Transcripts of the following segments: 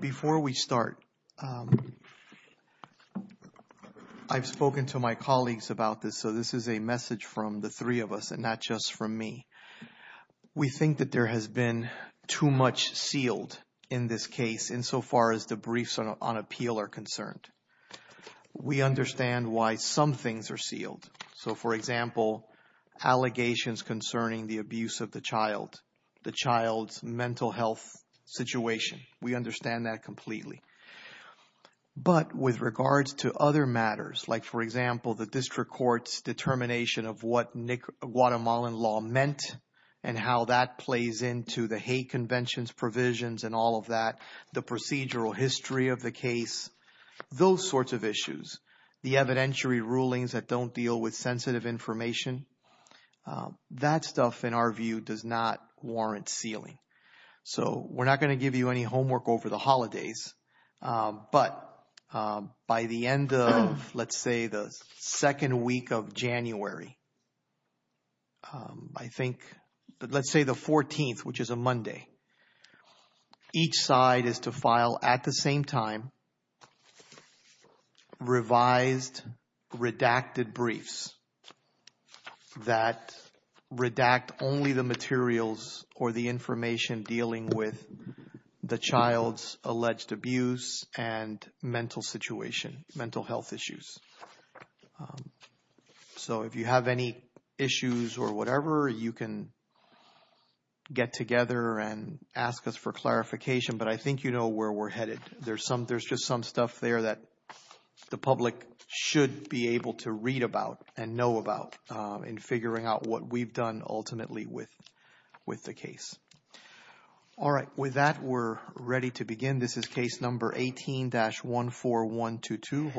Before we start, I've spoken to my colleagues about this, so this is a message from the three of us and not just from me. We think that there has been too much sealed in this case insofar as the briefs on appeal are concerned. We understand why some things are sealed. So, for example, allegations concerning the abuse of the child, the child's mental health situation. We understand that completely. But with regards to other matters, like, for example, the district court's determination of what Guatemalan law meant and how that plays into the hate conventions provisions and all of that, the procedural history of the case, those sorts of issues, the evidentiary rulings that don't deal with sensitive information, that stuff in our view does not warrant sealing. So, we're not going to give you any homework over the holidays, but by the end of, let's say, the second week of January, I think, let's say the 14th, which is a Monday, each side is to file at the same time revised redacted briefs that redact only the materials or the information. Dealing with the child's alleged abuse and mental situation, mental health issues. So, if you have any issues or whatever, you can get together and ask us for clarification. But I think you know where we're headed. There's just some stuff there that the public should be able to read about and know about in figuring out what we've done ultimately with the case. All right. With that, we're ready to begin. This is case number 18-14122.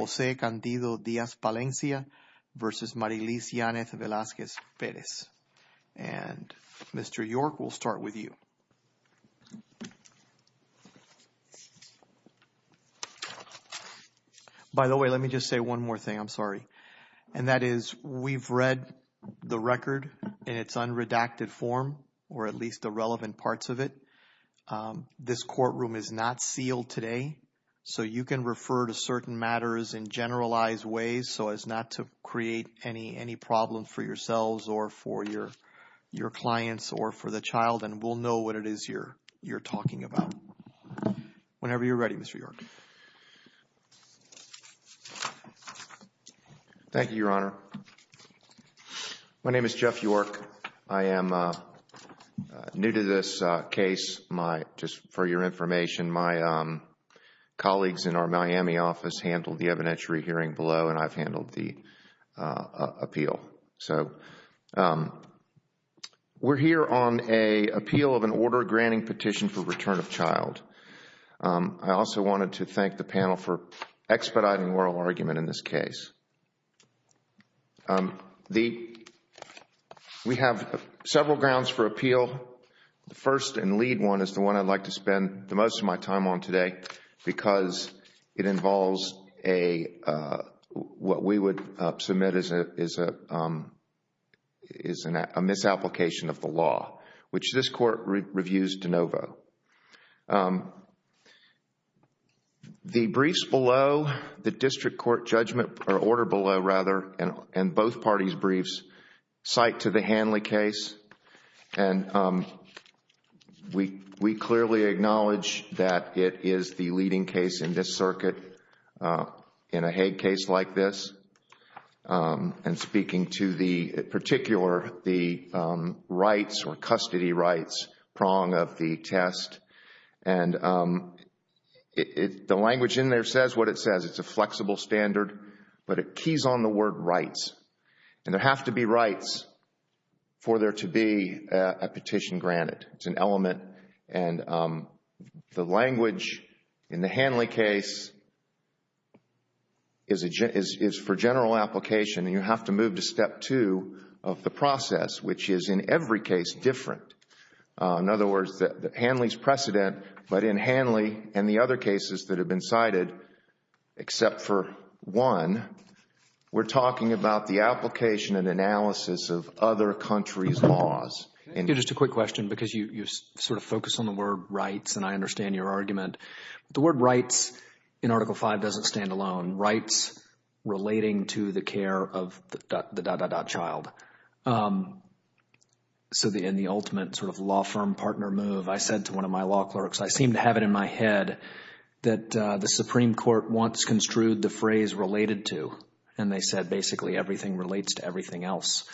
By the way, let me just say one more thing. I'm sorry. And that is we've read the record in its unredacted form, or at least the relevant parts of it. This courtroom is not sealed today, so you can refer to certain matters in generalized ways so as not to create any problem for yourselves or for your clients or for the child, and we'll know what it is you're talking about. Whenever you're ready, Mr. York. Thank you, Your Honor. My name is Jeff York. I am new to this case. Just for your information, my colleagues in our Miami office handled the evidentiary hearing below and I've handled the appeal. We're here on an appeal of an order granting petition for return of child. I also wanted to thank the panel for expediting oral argument in this case. We have several grounds for appeal. The first and lead one is the one I'd like to spend the most of my time on today because it involves what we would submit is a misapplication of the law, which this court reviews de novo. The briefs below, the district court judgment, or order below rather, and both parties' briefs cite to the Hanley case, and we clearly acknowledge that it is the leading case in this circuit in a Hague case like this. And speaking to the particular, the rights or custody rights prong of the test, and the language in there says what it says. It's a flexible standard, but it keys on the word rights, and there have to be rights for there to be a petition granted. It's an element, and the language in the Hanley case is for general application, and you have to move to step two of the process, which is in every case different. In other words, Hanley's precedent, but in Hanley and the other cases that have been cited, except for one, we're talking about the application and analysis of other countries' laws. Thank you. Just a quick question because you sort of focus on the word rights, and I understand your argument. The word rights in Article V doesn't stand alone. Rights relating to the care of the… child. So in the ultimate sort of law firm partner move, I said to one of my law clerks, I seem to have it in my head that the Supreme Court wants construed the phrase related to, and they said basically everything relates to everything else.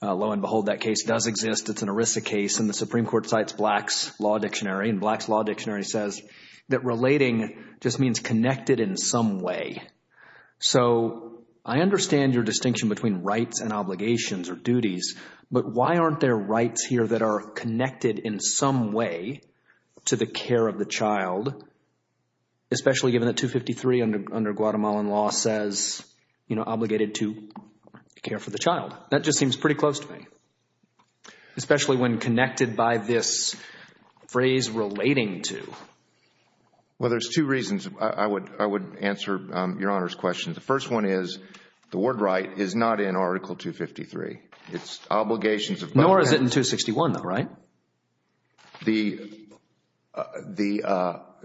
Lo and behold, that case does exist. It's an ERISA case, and the Supreme Court cites Black's Law Dictionary, and Black's Law Dictionary says that relating just means connected in some way. So I understand your distinction between rights and obligations or duties, but why aren't there rights here that are connected in some way to the care of the child, especially given that 253 under Guatemalan law says, you know, obligated to care for the child. That just seems pretty close to me, especially when connected by this phrase relating to. Well, there's two reasons I would answer Your Honor's question. The first one is the word right is not in Article 253. It's obligations of… Nor is it in 261 though, right?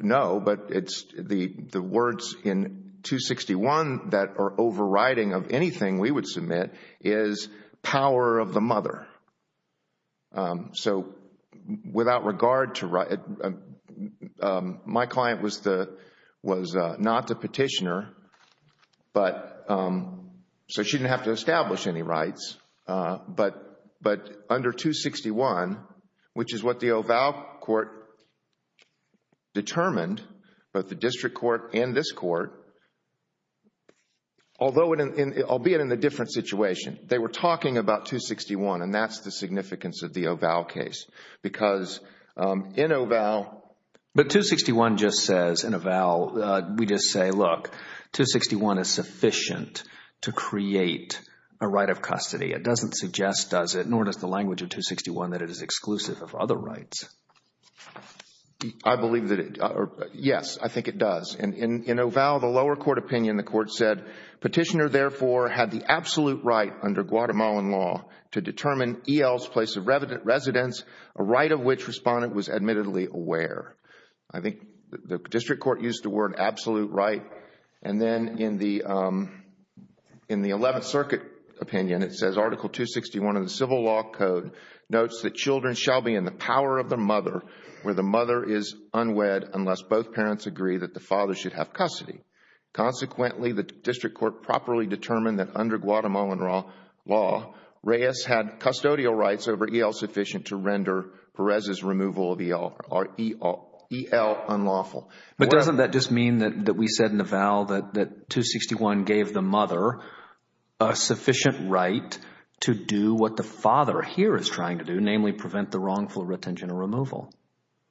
No, but it's the words in 261 that are overriding of anything we would submit is power of the mother. So without regard to… My client was not the petitioner, so she didn't have to establish any rights. But under 261, which is what the OVAL court determined, both the district court and this court, although it… albeit in a different situation, they were talking about 261, and that's the significance of the OVAL case because in OVAL… 261 is sufficient to create a right of custody. It doesn't suggest, does it, nor does the language of 261 that it is exclusive of other rights. I believe that it… Yes, I think it does. In OVAL, the lower court opinion, the court said, petitioner therefore had the absolute right under Guatemalan law to determine EL's place of residence, a right of which respondent was admittedly aware. I think the district court used the word absolute right, and then in the 11th Circuit opinion, it says Article 261 of the Civil Law Code notes that children shall be in the power of the mother where the mother is unwed unless both parents agree that the father should have custody. Consequently, the district court properly determined that under Guatemalan law, Reyes had custodial rights over EL sufficient to render Perez's removal of EL unlawful. But doesn't that just mean that we said in OVAL that 261 gave the mother a sufficient right to do what the father here is trying to do, namely prevent the wrongful retention or removal?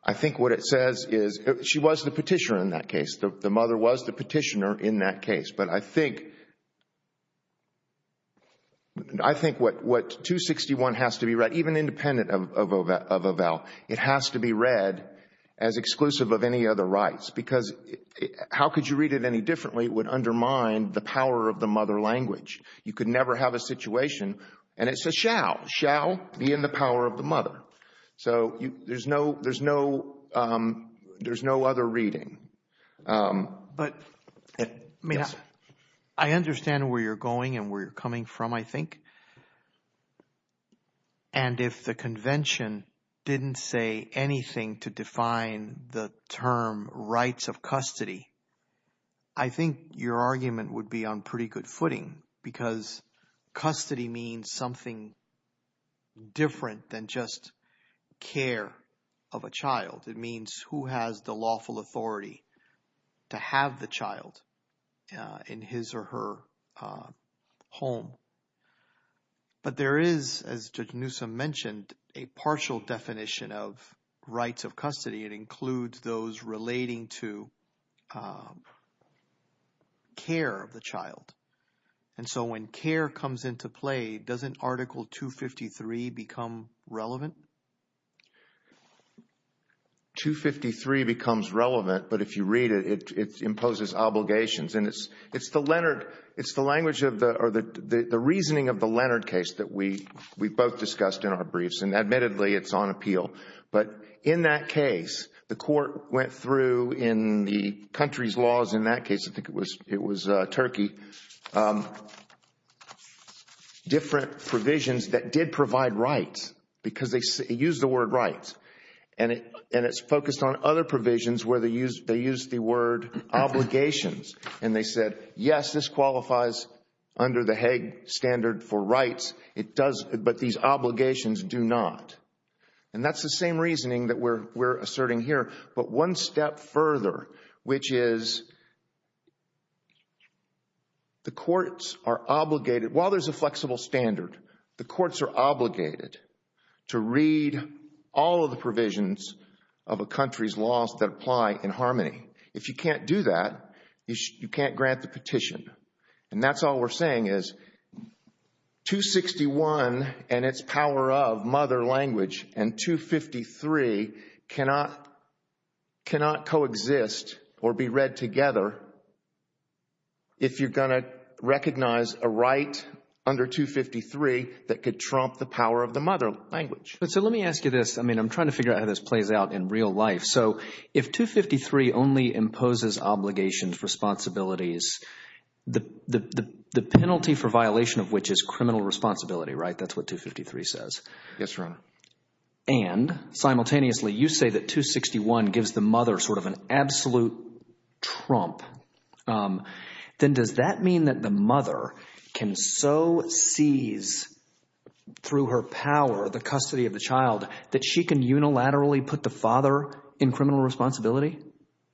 I think what it says is she was the petitioner in that case. The mother was the petitioner in that case. But I think what 261 has to be read, even independent of OVAL, it has to be read as exclusive of any other rights because how could you read it any differently? It would undermine the power of the mother language. You could never have a situation, and it says shall, shall be in the power of the mother. So there's no other reading. But I understand where you're going and where you're coming from, I think. And if the convention didn't say anything to define the term rights of custody, I think your argument would be on pretty good footing because custody means something different than just care of a child. It means who has the lawful authority to have the child in his or her home. But there is, as Judge Newsom mentioned, a partial definition of rights of custody. It includes those relating to care of the child. And so when care comes into play, doesn't Article 253 become relevant? 253 becomes relevant, but if you read it, it imposes obligations. And it's the Leonard, it's the language of the, or the reasoning of the Leonard case that we both discussed in our briefs. And admittedly, it's on appeal. But in that case, the court went through in the country's laws in that case, I think it was Turkey, different provisions that did provide rights because they used the word rights. And it's focused on other provisions where they used the word obligations. And they said, yes, this qualifies under the Hague standard for rights, but these obligations do not. And that's the same reasoning that we're asserting here. But one step further, which is the courts are obligated, while there's a flexible standard, the courts are obligated to read all of the provisions of a country's laws that apply in harmony. If you can't do that, you can't grant the petition. And that's all we're saying is 261 and its power of mother language and 253 cannot coexist or be read together if you're going to recognize a right under 253 that could trump the power of the mother language. But so let me ask you this. I mean, I'm trying to figure out how this plays out in real life. So if 253 only imposes obligations, responsibilities, the penalty for violation of which is criminal responsibility, right? That's what 253 says. Yes, Your Honor. And simultaneously, you say that 261 gives the mother sort of an absolute trump. Then does that mean that the mother can so seize through her power the custody of the child that she can unilaterally put the father in criminal responsibility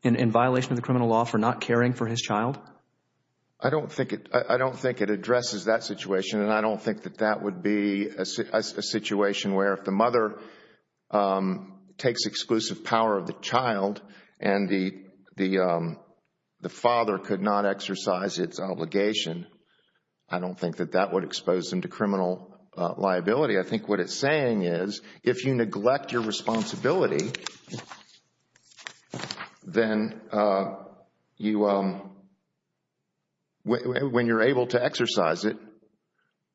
in violation of the criminal law for not caring for his child? I don't think it addresses that situation. And I don't think that that would be a situation where if the mother takes exclusive power of the child and the father could not exercise its obligation, I don't think that that would expose them to criminal liability. I think what it's saying is if you neglect your responsibility, then when you're able to exercise it,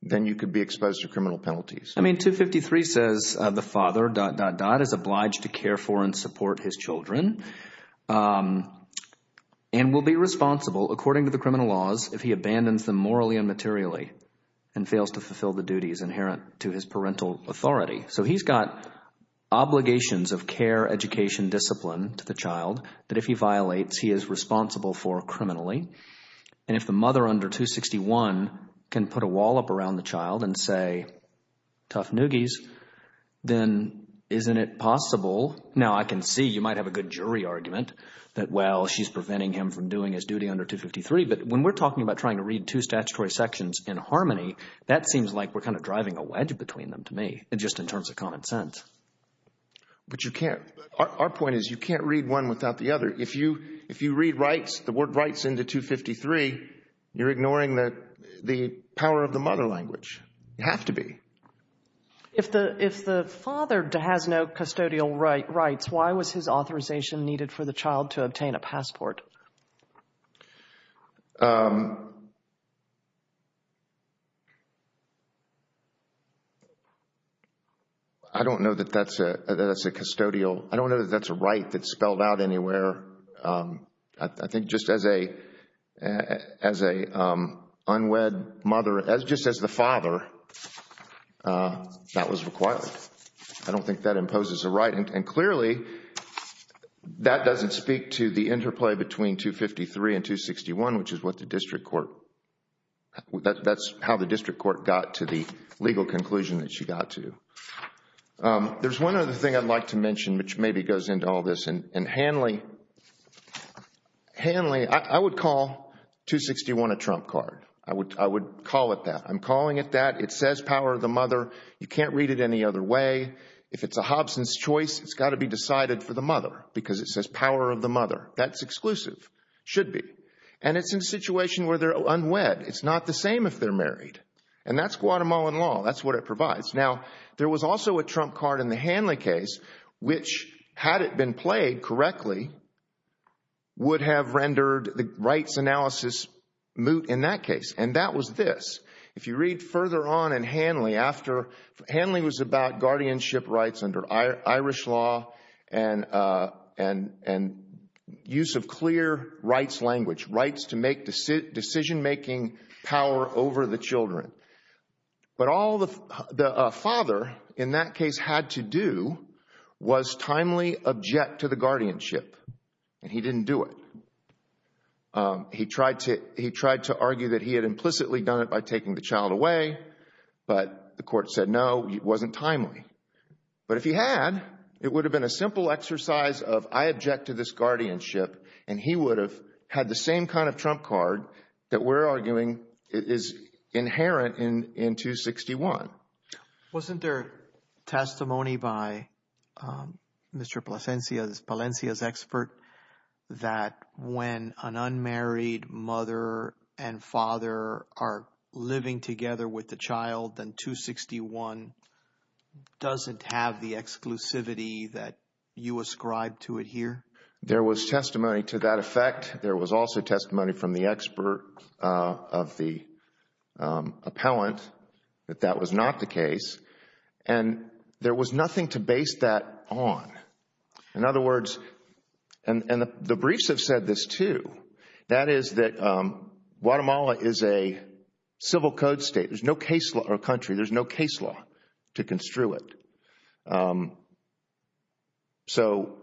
then you could be exposed to criminal penalties. I mean, 253 says the father…is obliged to care for and support his children and will be responsible according to the criminal laws if he abandons them morally and materially and fails to fulfill the duties inherent to his parental authority. So he's got obligations of care, education, discipline to the child that if he violates, he is responsible for criminally. And if the mother under 261 can put a wall up around the child and say, tough newgies, then isn't it possible? Now, I can see you might have a good jury argument that, well, she's preventing him from doing his duty under 253. But when we're talking about trying to read two statutory sections in harmony, that seems like we're kind of driving a wedge between them to me just in terms of common sense. But you can't. Our point is you can't read one without the other. If you read rights, the word rights into 253, you're ignoring the power of the mother language. You have to be. If the father has no custodial rights, why was his authorization needed for the child to obtain a passport? I don't know that that's a custodial. I don't know that that's a right that's spelled out anywhere. I think just as a unwed mother, just as the father, that was required. I don't think that imposes a right. And clearly, that doesn't speak to the interplay between 253 and 261, which is what the district court, that's how the district court got to the legal conclusion that she got to. There's one other thing I'd like to mention, which maybe goes into all this. And Hanley, I would call 261 a trump card. I would call it that. I'm calling it that. It says power of the mother. You can't read it any other way. If it's a Hobson's choice, it's got to be decided for the mother because it says power of the mother. That's exclusive. Should be. And it's in a situation where they're unwed. It's not the same if they're married. And that's Guatemalan law. That's what it provides. Now, there was also a trump card in the Hanley case, which, had it been played correctly, would have rendered the rights analysis moot in that case. And that was this. If you read further on in Hanley, Hanley was about guardianship rights under Irish law and use of clear rights language, rights to make decision-making power over the children. But all the father in that case had to do was timely object to the guardianship, and he didn't do it. He tried to argue that he had implicitly done it by taking the child away, but the court said no, it wasn't timely. But if he had, it would have been a simple exercise of I object to this guardianship, and he would have had the same kind of trump card that we're arguing is inherent in 261. Wasn't there testimony by Mr. Palencia's expert that when an unmarried mother and father are living together with the child, then 261 doesn't have the exclusivity that you ascribe to it here? There was testimony to that effect. There was also testimony from the expert of the appellant that that was not the case, and there was nothing to base that on. In other words, and the briefs have said this too, that is that Guatemala is a civil code state. There's no case or country, there's no case law to construe it. So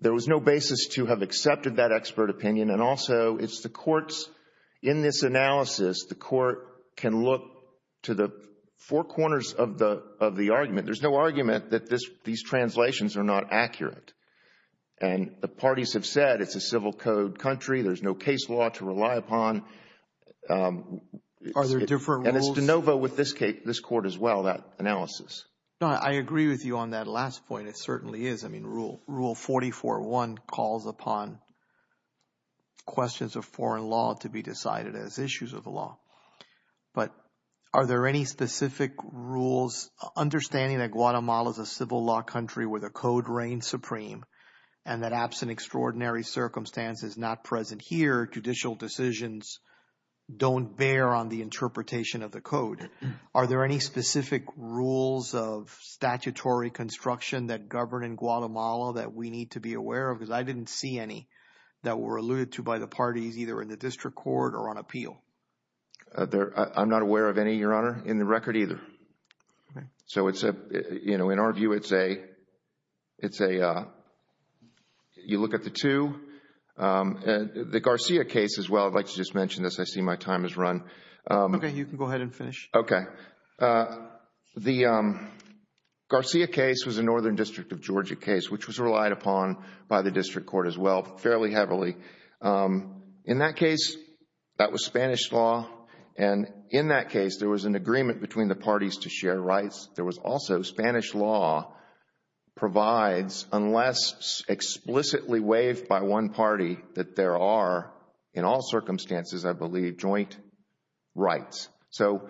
there was no basis to have accepted that expert opinion, and also it's the courts in this analysis, the court can look to the four corners of the argument. There's no argument that these translations are not accurate, and the parties have said it's a civil code country, there's no case law to rely upon. Are there different rules? And it's de novo with this court as well, that analysis. No, I agree with you on that last point. It certainly is. I mean, rule 44-1 calls upon questions of foreign law to be decided as issues of the law. But are there any specific rules? Understanding that Guatemala is a civil law country where the code reigns supreme and that absent extraordinary circumstances not present here, judicial decisions don't bear on the interpretation of the code. Are there any specific rules of statutory construction that govern in Guatemala that we need to be aware of? Because I didn't see any that were alluded to by the parties either in the district court or on appeal. I'm not aware of any, Your Honor, in the record either. So in our view, it's a, you look at the two. The Garcia case as well, I'd like to just mention this, I see my time has run. Okay, you can go ahead and finish. Okay. The Garcia case was a Northern District of Georgia case, which was relied upon by the district court as well fairly heavily. In that case, that was Spanish law. And in that case, there was an agreement between the parties to share rights. There was also Spanish law provides unless explicitly waived by one party that there are, in all circumstances, I believe, joint rights. So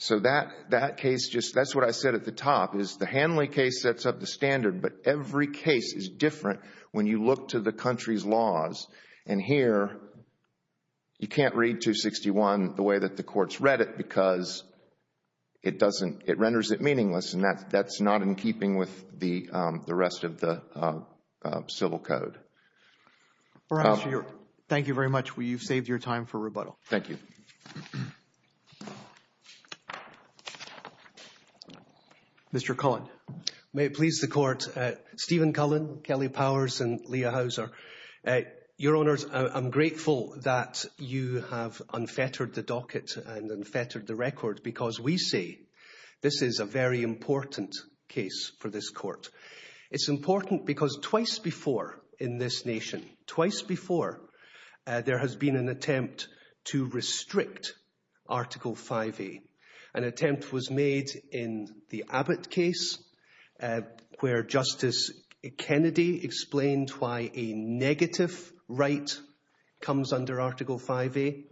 that case, that's what I said at the top, is the Hanley case sets up the standard, but every case is different when you look to the country's laws. And here, you can't read 261 the way that the courts read it because it doesn't, it renders it meaningless. And that's not in keeping with the rest of the civil code. Your Honor, thank you very much. You've saved your time for rebuttal. Thank you. Mr. Cullen. May it please the court. Stephen Cullen, Kelly Powers and Leah Houser. Your Honor, I'm grateful that you have unfettered the docket and unfettered the record because we see this is a very important case for this court. It's important because twice before in this nation, twice before, there has been an attempt to restrict Article 5A. An attempt was made in the Abbott case where Justice Kennedy explained why a negative right comes under Article 5A.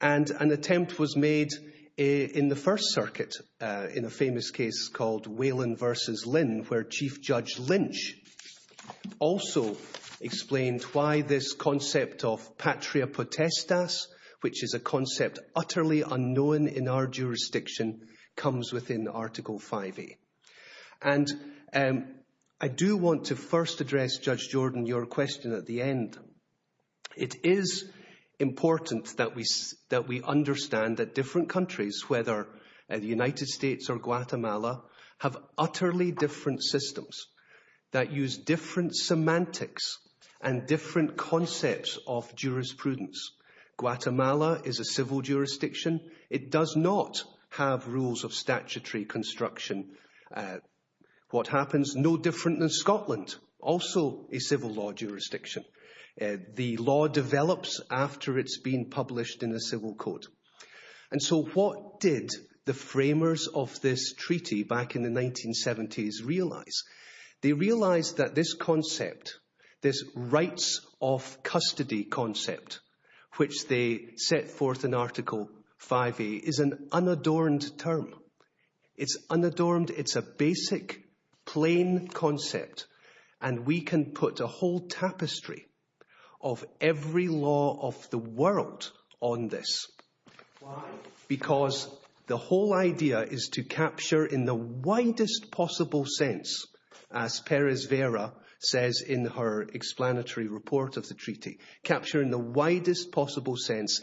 And an attempt was made in the First Circuit in a famous case called Whelan v. Lynn where Chief Judge Lynch also explained why this concept of patria potestas, which is a concept utterly unknown in our jurisdiction, comes within Article 5A. And I do want to first address, Judge Jordan, your question at the end. It is important that we understand that different countries, whether the United States or Guatemala, have utterly different systems that use different semantics and different concepts of jurisprudence. Guatemala is a civil jurisdiction. It does not have rules of statutory construction. What happens is no different than Scotland, also a civil law jurisdiction. The law develops after it's been published in a civil code. So what did the framers of this treaty back in the 1970s realise? They realised that this concept, this rights of custody concept, which they set forth in Article 5A, is an unadorned term. It's unadorned. It's a basic, plain concept. And we can put a whole tapestry of every law of the world on this. Why? Because the whole idea is to capture in the widest possible sense, as Perez Vera says in her explanatory report of the treaty, capture in the widest possible sense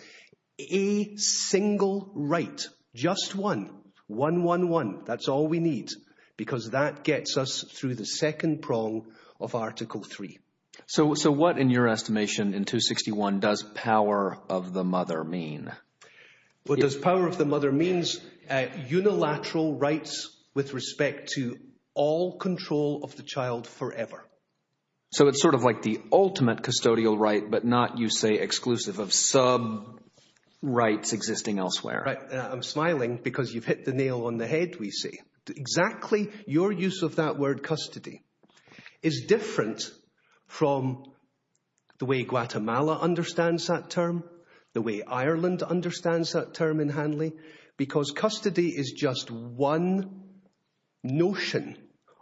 a single right. Just one. One, one, one. That's all we need. Because that gets us through the second prong of Article 3. So what, in your estimation, in 261, does power of the mother mean? What does power of the mother mean? Unilateral rights with respect to all control of the child forever. So it's sort of like the ultimate custodial right, but not, you say, exclusive of sub-rights existing elsewhere. I'm smiling because you've hit the nail on the head, we see. Exactly your use of that word custody is different from the way Guatemala understands that term, the way Ireland understands that term in Hanley. Because custody is just one notion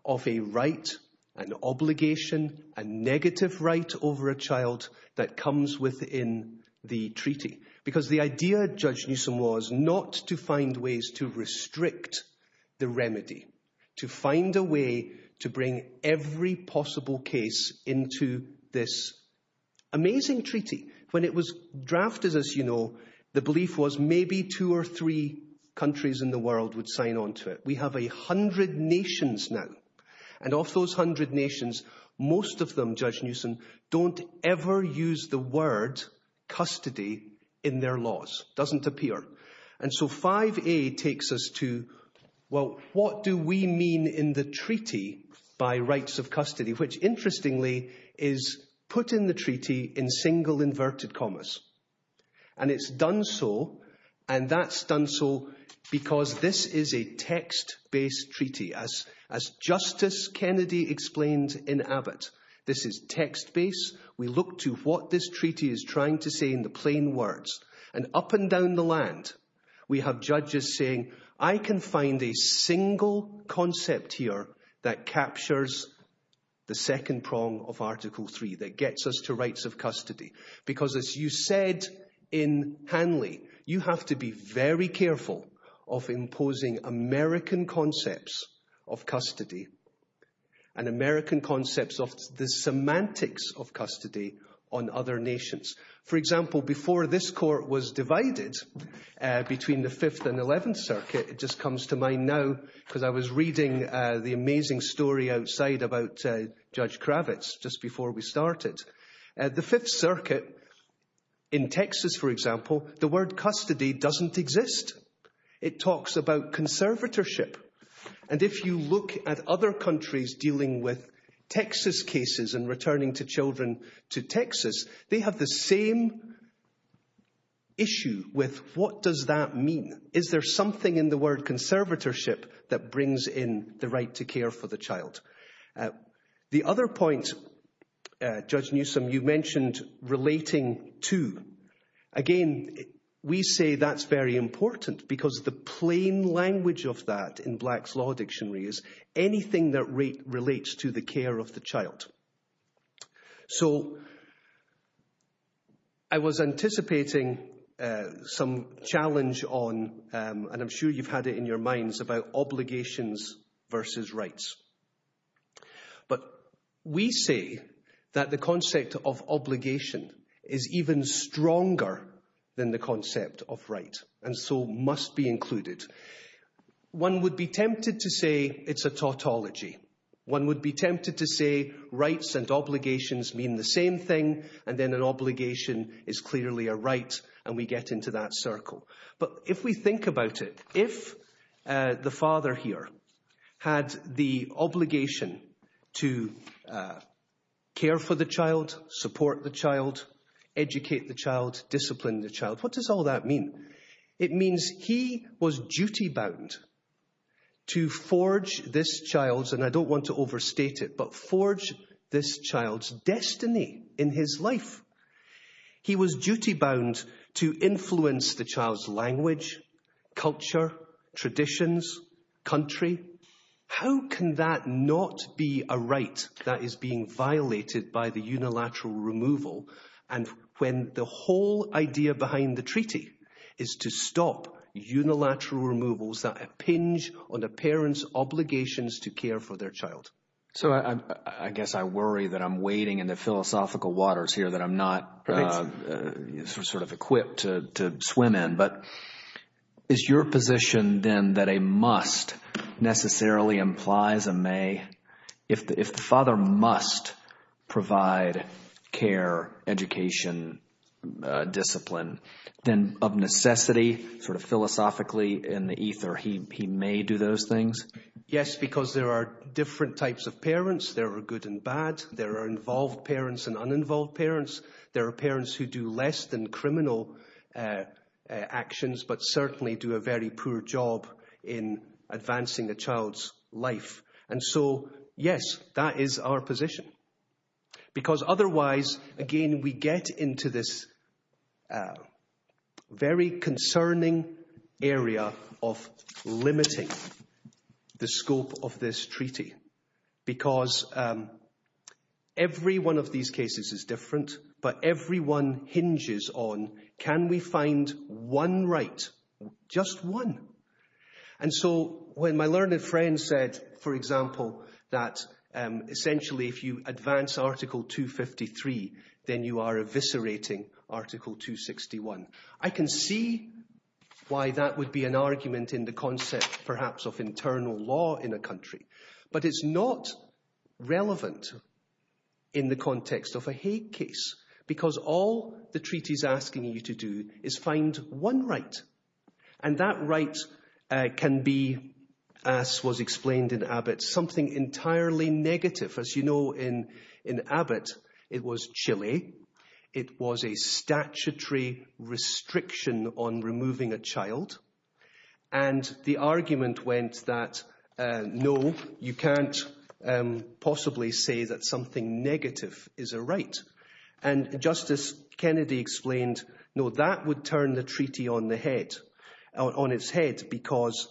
of a right, an obligation, a negative right over a child that comes within the treaty. Because the idea, Judge Newsom, was not to find ways to restrict the remedy, to find a way to bring every possible case into this amazing treaty. When it was drafted, as you know, the belief was maybe two or three countries in the world would sign on to it. We have a hundred nations now. And of those hundred nations, most of them, Judge Newsom, don't ever use the word custody in their laws. Doesn't appear. And so 5A takes us to, well, what do we mean in the treaty by rights of custody? Which, interestingly, is put in the treaty in single inverted commas. And it's done so, and that's done so because this is a text-based treaty. As Justice Kennedy explained in Abbott, this is text-based. We look to what this treaty is trying to say in the plain words. And up and down the land, we have judges saying, I can find a single concept here that captures the second prong of Article 3, that gets us to rights of custody. Because, as you said in Hanley, you have to be very careful of imposing American concepts of custody and American concepts of the semantics of custody on other nations. For example, before this court was divided between the 5th and 11th Circuit, it just comes to mind now because I was reading the amazing story outside about Judge Kravitz just before we started. The 5th Circuit in Texas, for example, the word custody doesn't exist. It talks about conservatorship. And if you look at other countries dealing with Texas cases and returning children to Texas, they have the same issue with what does that mean? Is there something in the word conservatorship that brings in the right to care for the child? The other point, Judge Newsome, you mentioned relating to. Again, we say that's very important because the plain language of that in Black's Law Dictionary is anything that relates to the care of the child. So, I was anticipating some challenge on, and I'm sure you've had it in your minds, about obligations versus rights. But we say that the concept of obligation is even stronger than the concept of right, and so must be included. One would be tempted to say it's a tautology. One would be tempted to say rights and obligations mean the same thing, and then an obligation is clearly a right, and we get into that circle. But if we think about it, if the father here had the obligation to care for the child, support the child, educate the child, discipline the child, what does all that mean? It means he was duty-bound to forge this child's, and I don't want to overstate it, but forge this child's destiny in his life. He was duty-bound to influence the child's language, culture, traditions, country. How can that not be a right that is being violated by the unilateral removal, and when the whole idea behind the treaty is to stop unilateral removals that impinge on a parent's obligations to care for their child? So I guess I worry that I'm wading into philosophical waters here, that I'm not sort of equipped to swim in, but is your position then that a must necessarily implies a may? If the father must provide care, education, discipline, then of necessity, sort of philosophically in the ether, he may do those things? Yes, because there are different types of parents. There are good and bad. There are involved parents and uninvolved parents. There are parents who do less than criminal actions, but certainly do a very poor job in advancing the child's life. And so, yes, that is our position. Because otherwise, again, we get into this very concerning area of limiting the scope of this treaty. Because every one of these cases is different, but every one hinges on can we find one right, just one? And so when my learned friend said, for example, that essentially if you advance article 253, then you are eviscerating article 261, I can see why that would be an argument in the concept perhaps of internal law in a country. But it's not relevant in the context of a Hague case, because all the treaty is asking you to do is find one right. And that right can be, as was explained in Abbott, something entirely negative. As you know, in Abbott, it was Chile. It was a statutory restriction on removing a child. And the argument went that, no, you can't possibly say that something negative is a right. And Justice Kennedy explained, no, that would turn the treaty on its head, because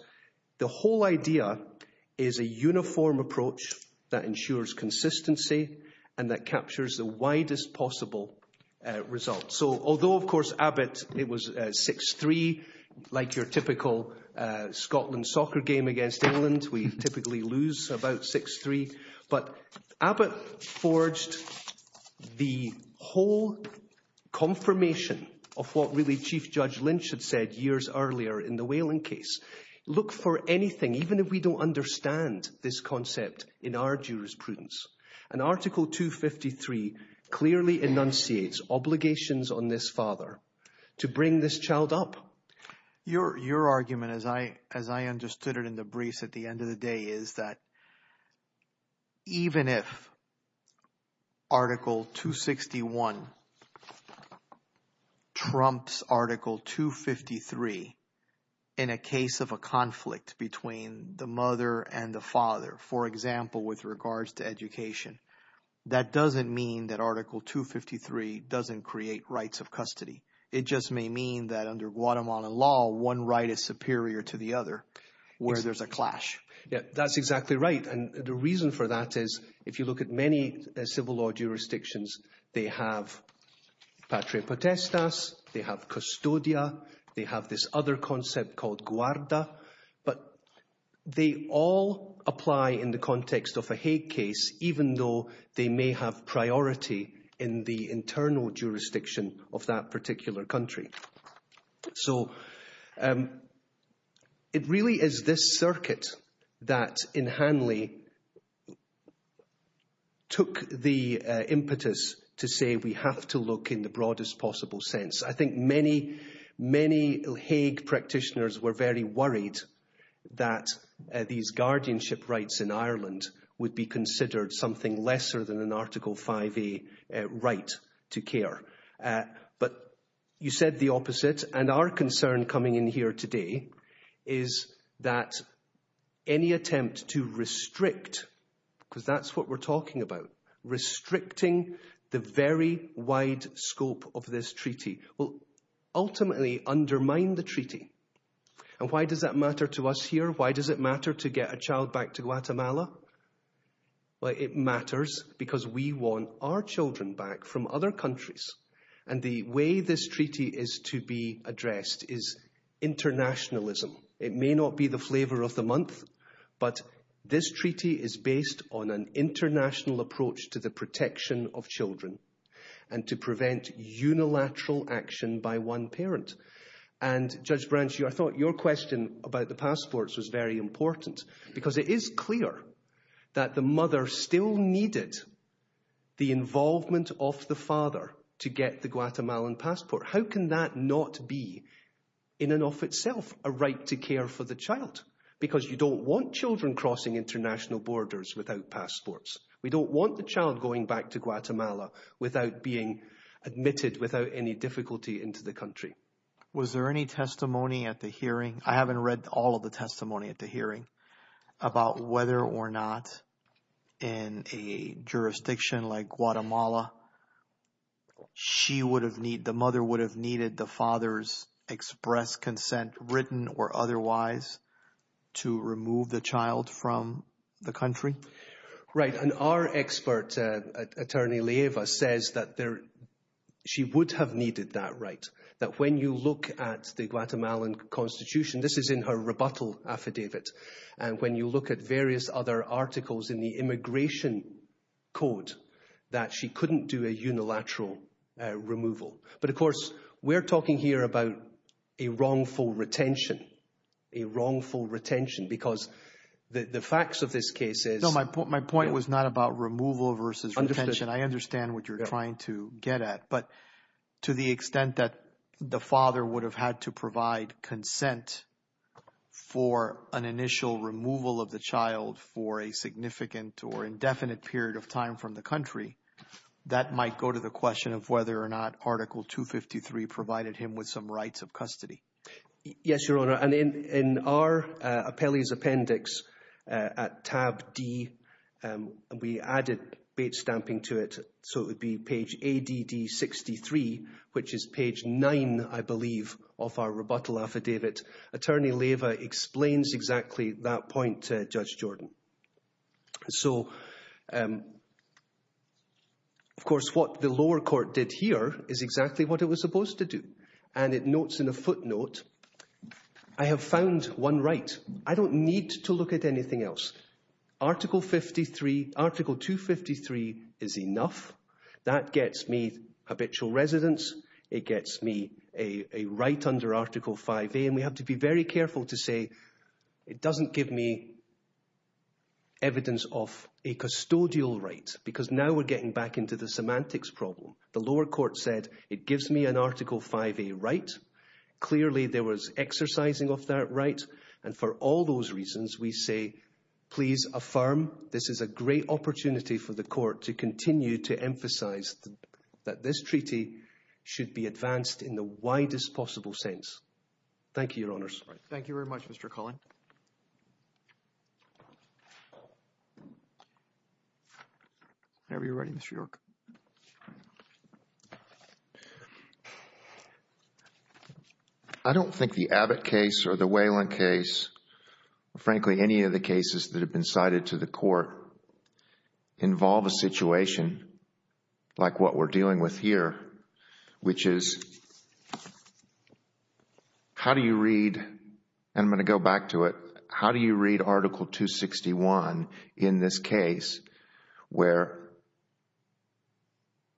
the whole idea is a uniform approach that ensures consistency and that captures the widest possible result. So although, of course, Abbott, it was 6-3, like your typical Scotland soccer game against England, we typically lose about 6-3. But Abbott forged the whole confirmation of what really Chief Judge Lynch had said years earlier in the Whelan case. Look for anything, even if we don't understand this concept in our jurisprudence. And article 253 clearly enunciates obligations on this father to bring this child up. So your argument, as I understood it in the briefs at the end of the day, is that even if article 261 trumps article 253 in a case of a conflict between the mother and the father, for example, with regards to education, that doesn't mean that article 253 doesn't create rights of custody. It just may mean that under Guatemalan law, one right is superior to the other where there's a clash. Yes, that's exactly right. And the reason for that is, if you look at many civil law jurisdictions, they have patria potestas, they have custodia, they have this other concept called guarda, but they all apply in the context of a Hague case, even though they may have priority in the internal jurisdiction of that particular country. So it really is this circuit that, in Hanley, took the impetus to say we have to look in the broadest possible sense. I think many, many Hague practitioners were very worried that these guardianship rights in Ireland would be considered something lesser than an article 5A right to care. But you said the opposite, and our concern coming in here today is that any attempt to restrict, because that's what we're talking about, restricting the very wide scope of this treaty will ultimately undermine the treaty. And why does that matter to us here? Why does it matter to get a child back to Guatemala? Well, it matters because we want our children back from other countries. And the way this treaty is to be addressed is internationalism. It may not be the flavour of the month, but this treaty is based on an international approach to the protection of children and to prevent unilateral action by one parent. And, Judge Branch, I thought your question about the passports was very important, because it is clear that the mother still needed the involvement of the father to get the Guatemalan passport. How can that not be, in and of itself, a right to care for the child? Because you don't want children crossing international borders without passports. We don't want the child going back to Guatemala without being admitted, without any difficulty into the country. Was there any testimony at the hearing? I haven't read all of the testimony at the hearing about whether or not, in a jurisdiction like Guatemala, the mother would have needed the father's express consent, written or otherwise, to remove the child from the country? Right. And our expert attorney, Leiva, says that she would have needed that right. That when you look at the Guatemalan constitution, this is in her rebuttal affidavit, and when you look at various other articles in the immigration code, that she couldn't do a unilateral removal. But, of course, we're talking here about a wrongful retention, a wrongful retention, because the facts of this case is— for a significant or indefinite period of time from the country, that might go to the question of whether or not article 253 provided him with some rights of custody. Yes, Your Honour. In our appellee's appendix at tab D, we added bait stamping to it, so it would be page ADD63, which is page 9, I believe, of our rebuttal affidavit. Attorney Leiva explains exactly that point to Judge Jordan. So, of course, what the lower court did here is exactly what it was supposed to do, and it notes in a footnote, I have found one right. I don't need to look at anything else. Article 253 is enough. That gets me habitual residence. It gets me a right under article 5A, and we have to be very careful to say it doesn't give me evidence of a custodial right, because now we're getting back into the semantics problem. The lower court said, it gives me an article 5A right. Clearly, there was exercising of that right, and for all those reasons, we say, please affirm. This is a great opportunity for the court to continue to emphasise that this treaty should be advanced in the widest possible sense. Thank you, Your Honours. Thank you very much, Mr. Cullin. Whenever you're ready, Mr. York. I don't think the Abbott case or the Whelan case, or frankly, any of the cases that have been cited to the court, involve a situation like what we're dealing with here, which is, how do you read, and I'm going to go back to it, how do you read article 261 in this case where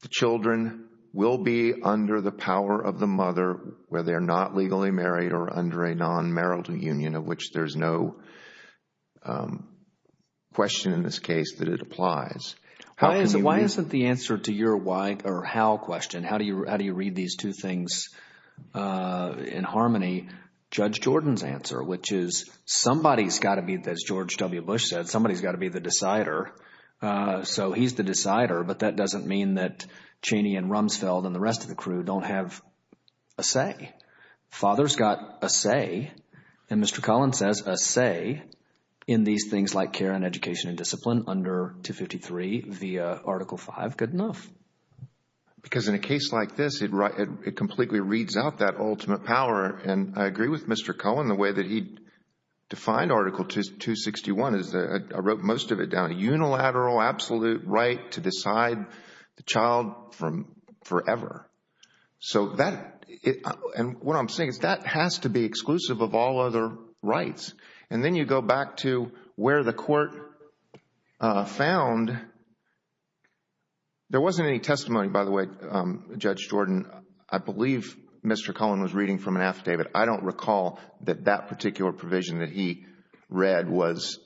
the children will be under the power of the mother, whether they're not legally married or under a non-marital union, of which there's no question in this case that it applies? Why isn't the answer to your why or how question, how do you read these two things in harmony, Judge Jordan's answer, which is somebody's got to be, as George W. Bush said, somebody's got to be the decider. So he's the decider, but that doesn't mean that Cheney and Rumsfeld and the rest of the crew don't have a say. Father's got a say, and Mr. Cullin says a say in these things like care and education and discipline under 253 via article 5, good enough. Because in a case like this, it completely reads out that ultimate power, and I agree with Mr. Cullin, the way that he defined article 261 is, I wrote most of it down, a unilateral absolute right to decide the child forever. So that, and what I'm saying is that has to be exclusive of all other rights. And then you go back to where the court found, there wasn't any testimony, by the way, Judge Jordan, I believe Mr. Cullin was reading from an affidavit. I don't recall that that particular provision that he read was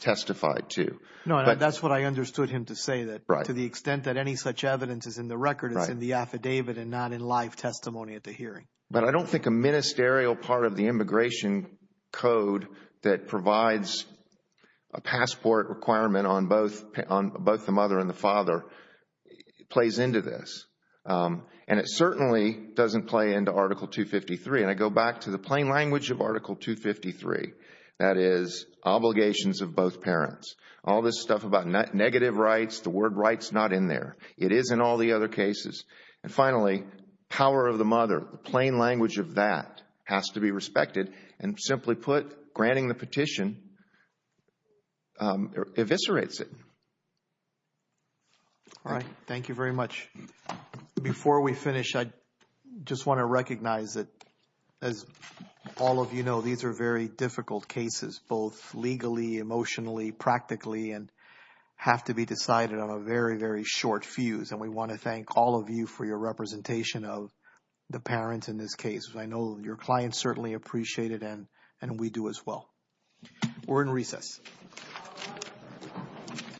testified to. No, and that's what I understood him to say, that to the extent that any such evidence is in the record, it's in the affidavit and not in live testimony at the hearing. But I don't think a ministerial part of the immigration code that provides a passport requirement on both the mother and the father plays into this. And it certainly doesn't play into article 253. And I go back to the plain language of article 253, that is, obligations of both parents. All this stuff about negative rights, the word rights, not in there. It is in all the other cases. And finally, power of the mother, the plain language of that has to be respected. And simply put, granting the petition eviscerates it. All right. Thank you very much. Before we finish, I just want to recognize that, as all of you know, these are very difficult cases, both legally, emotionally, practically, and have to be decided on a very, very short fuse. And we want to thank all of you for your representation of the parents in this case. I know your clients certainly appreciate it, and we do as well. We're in recess.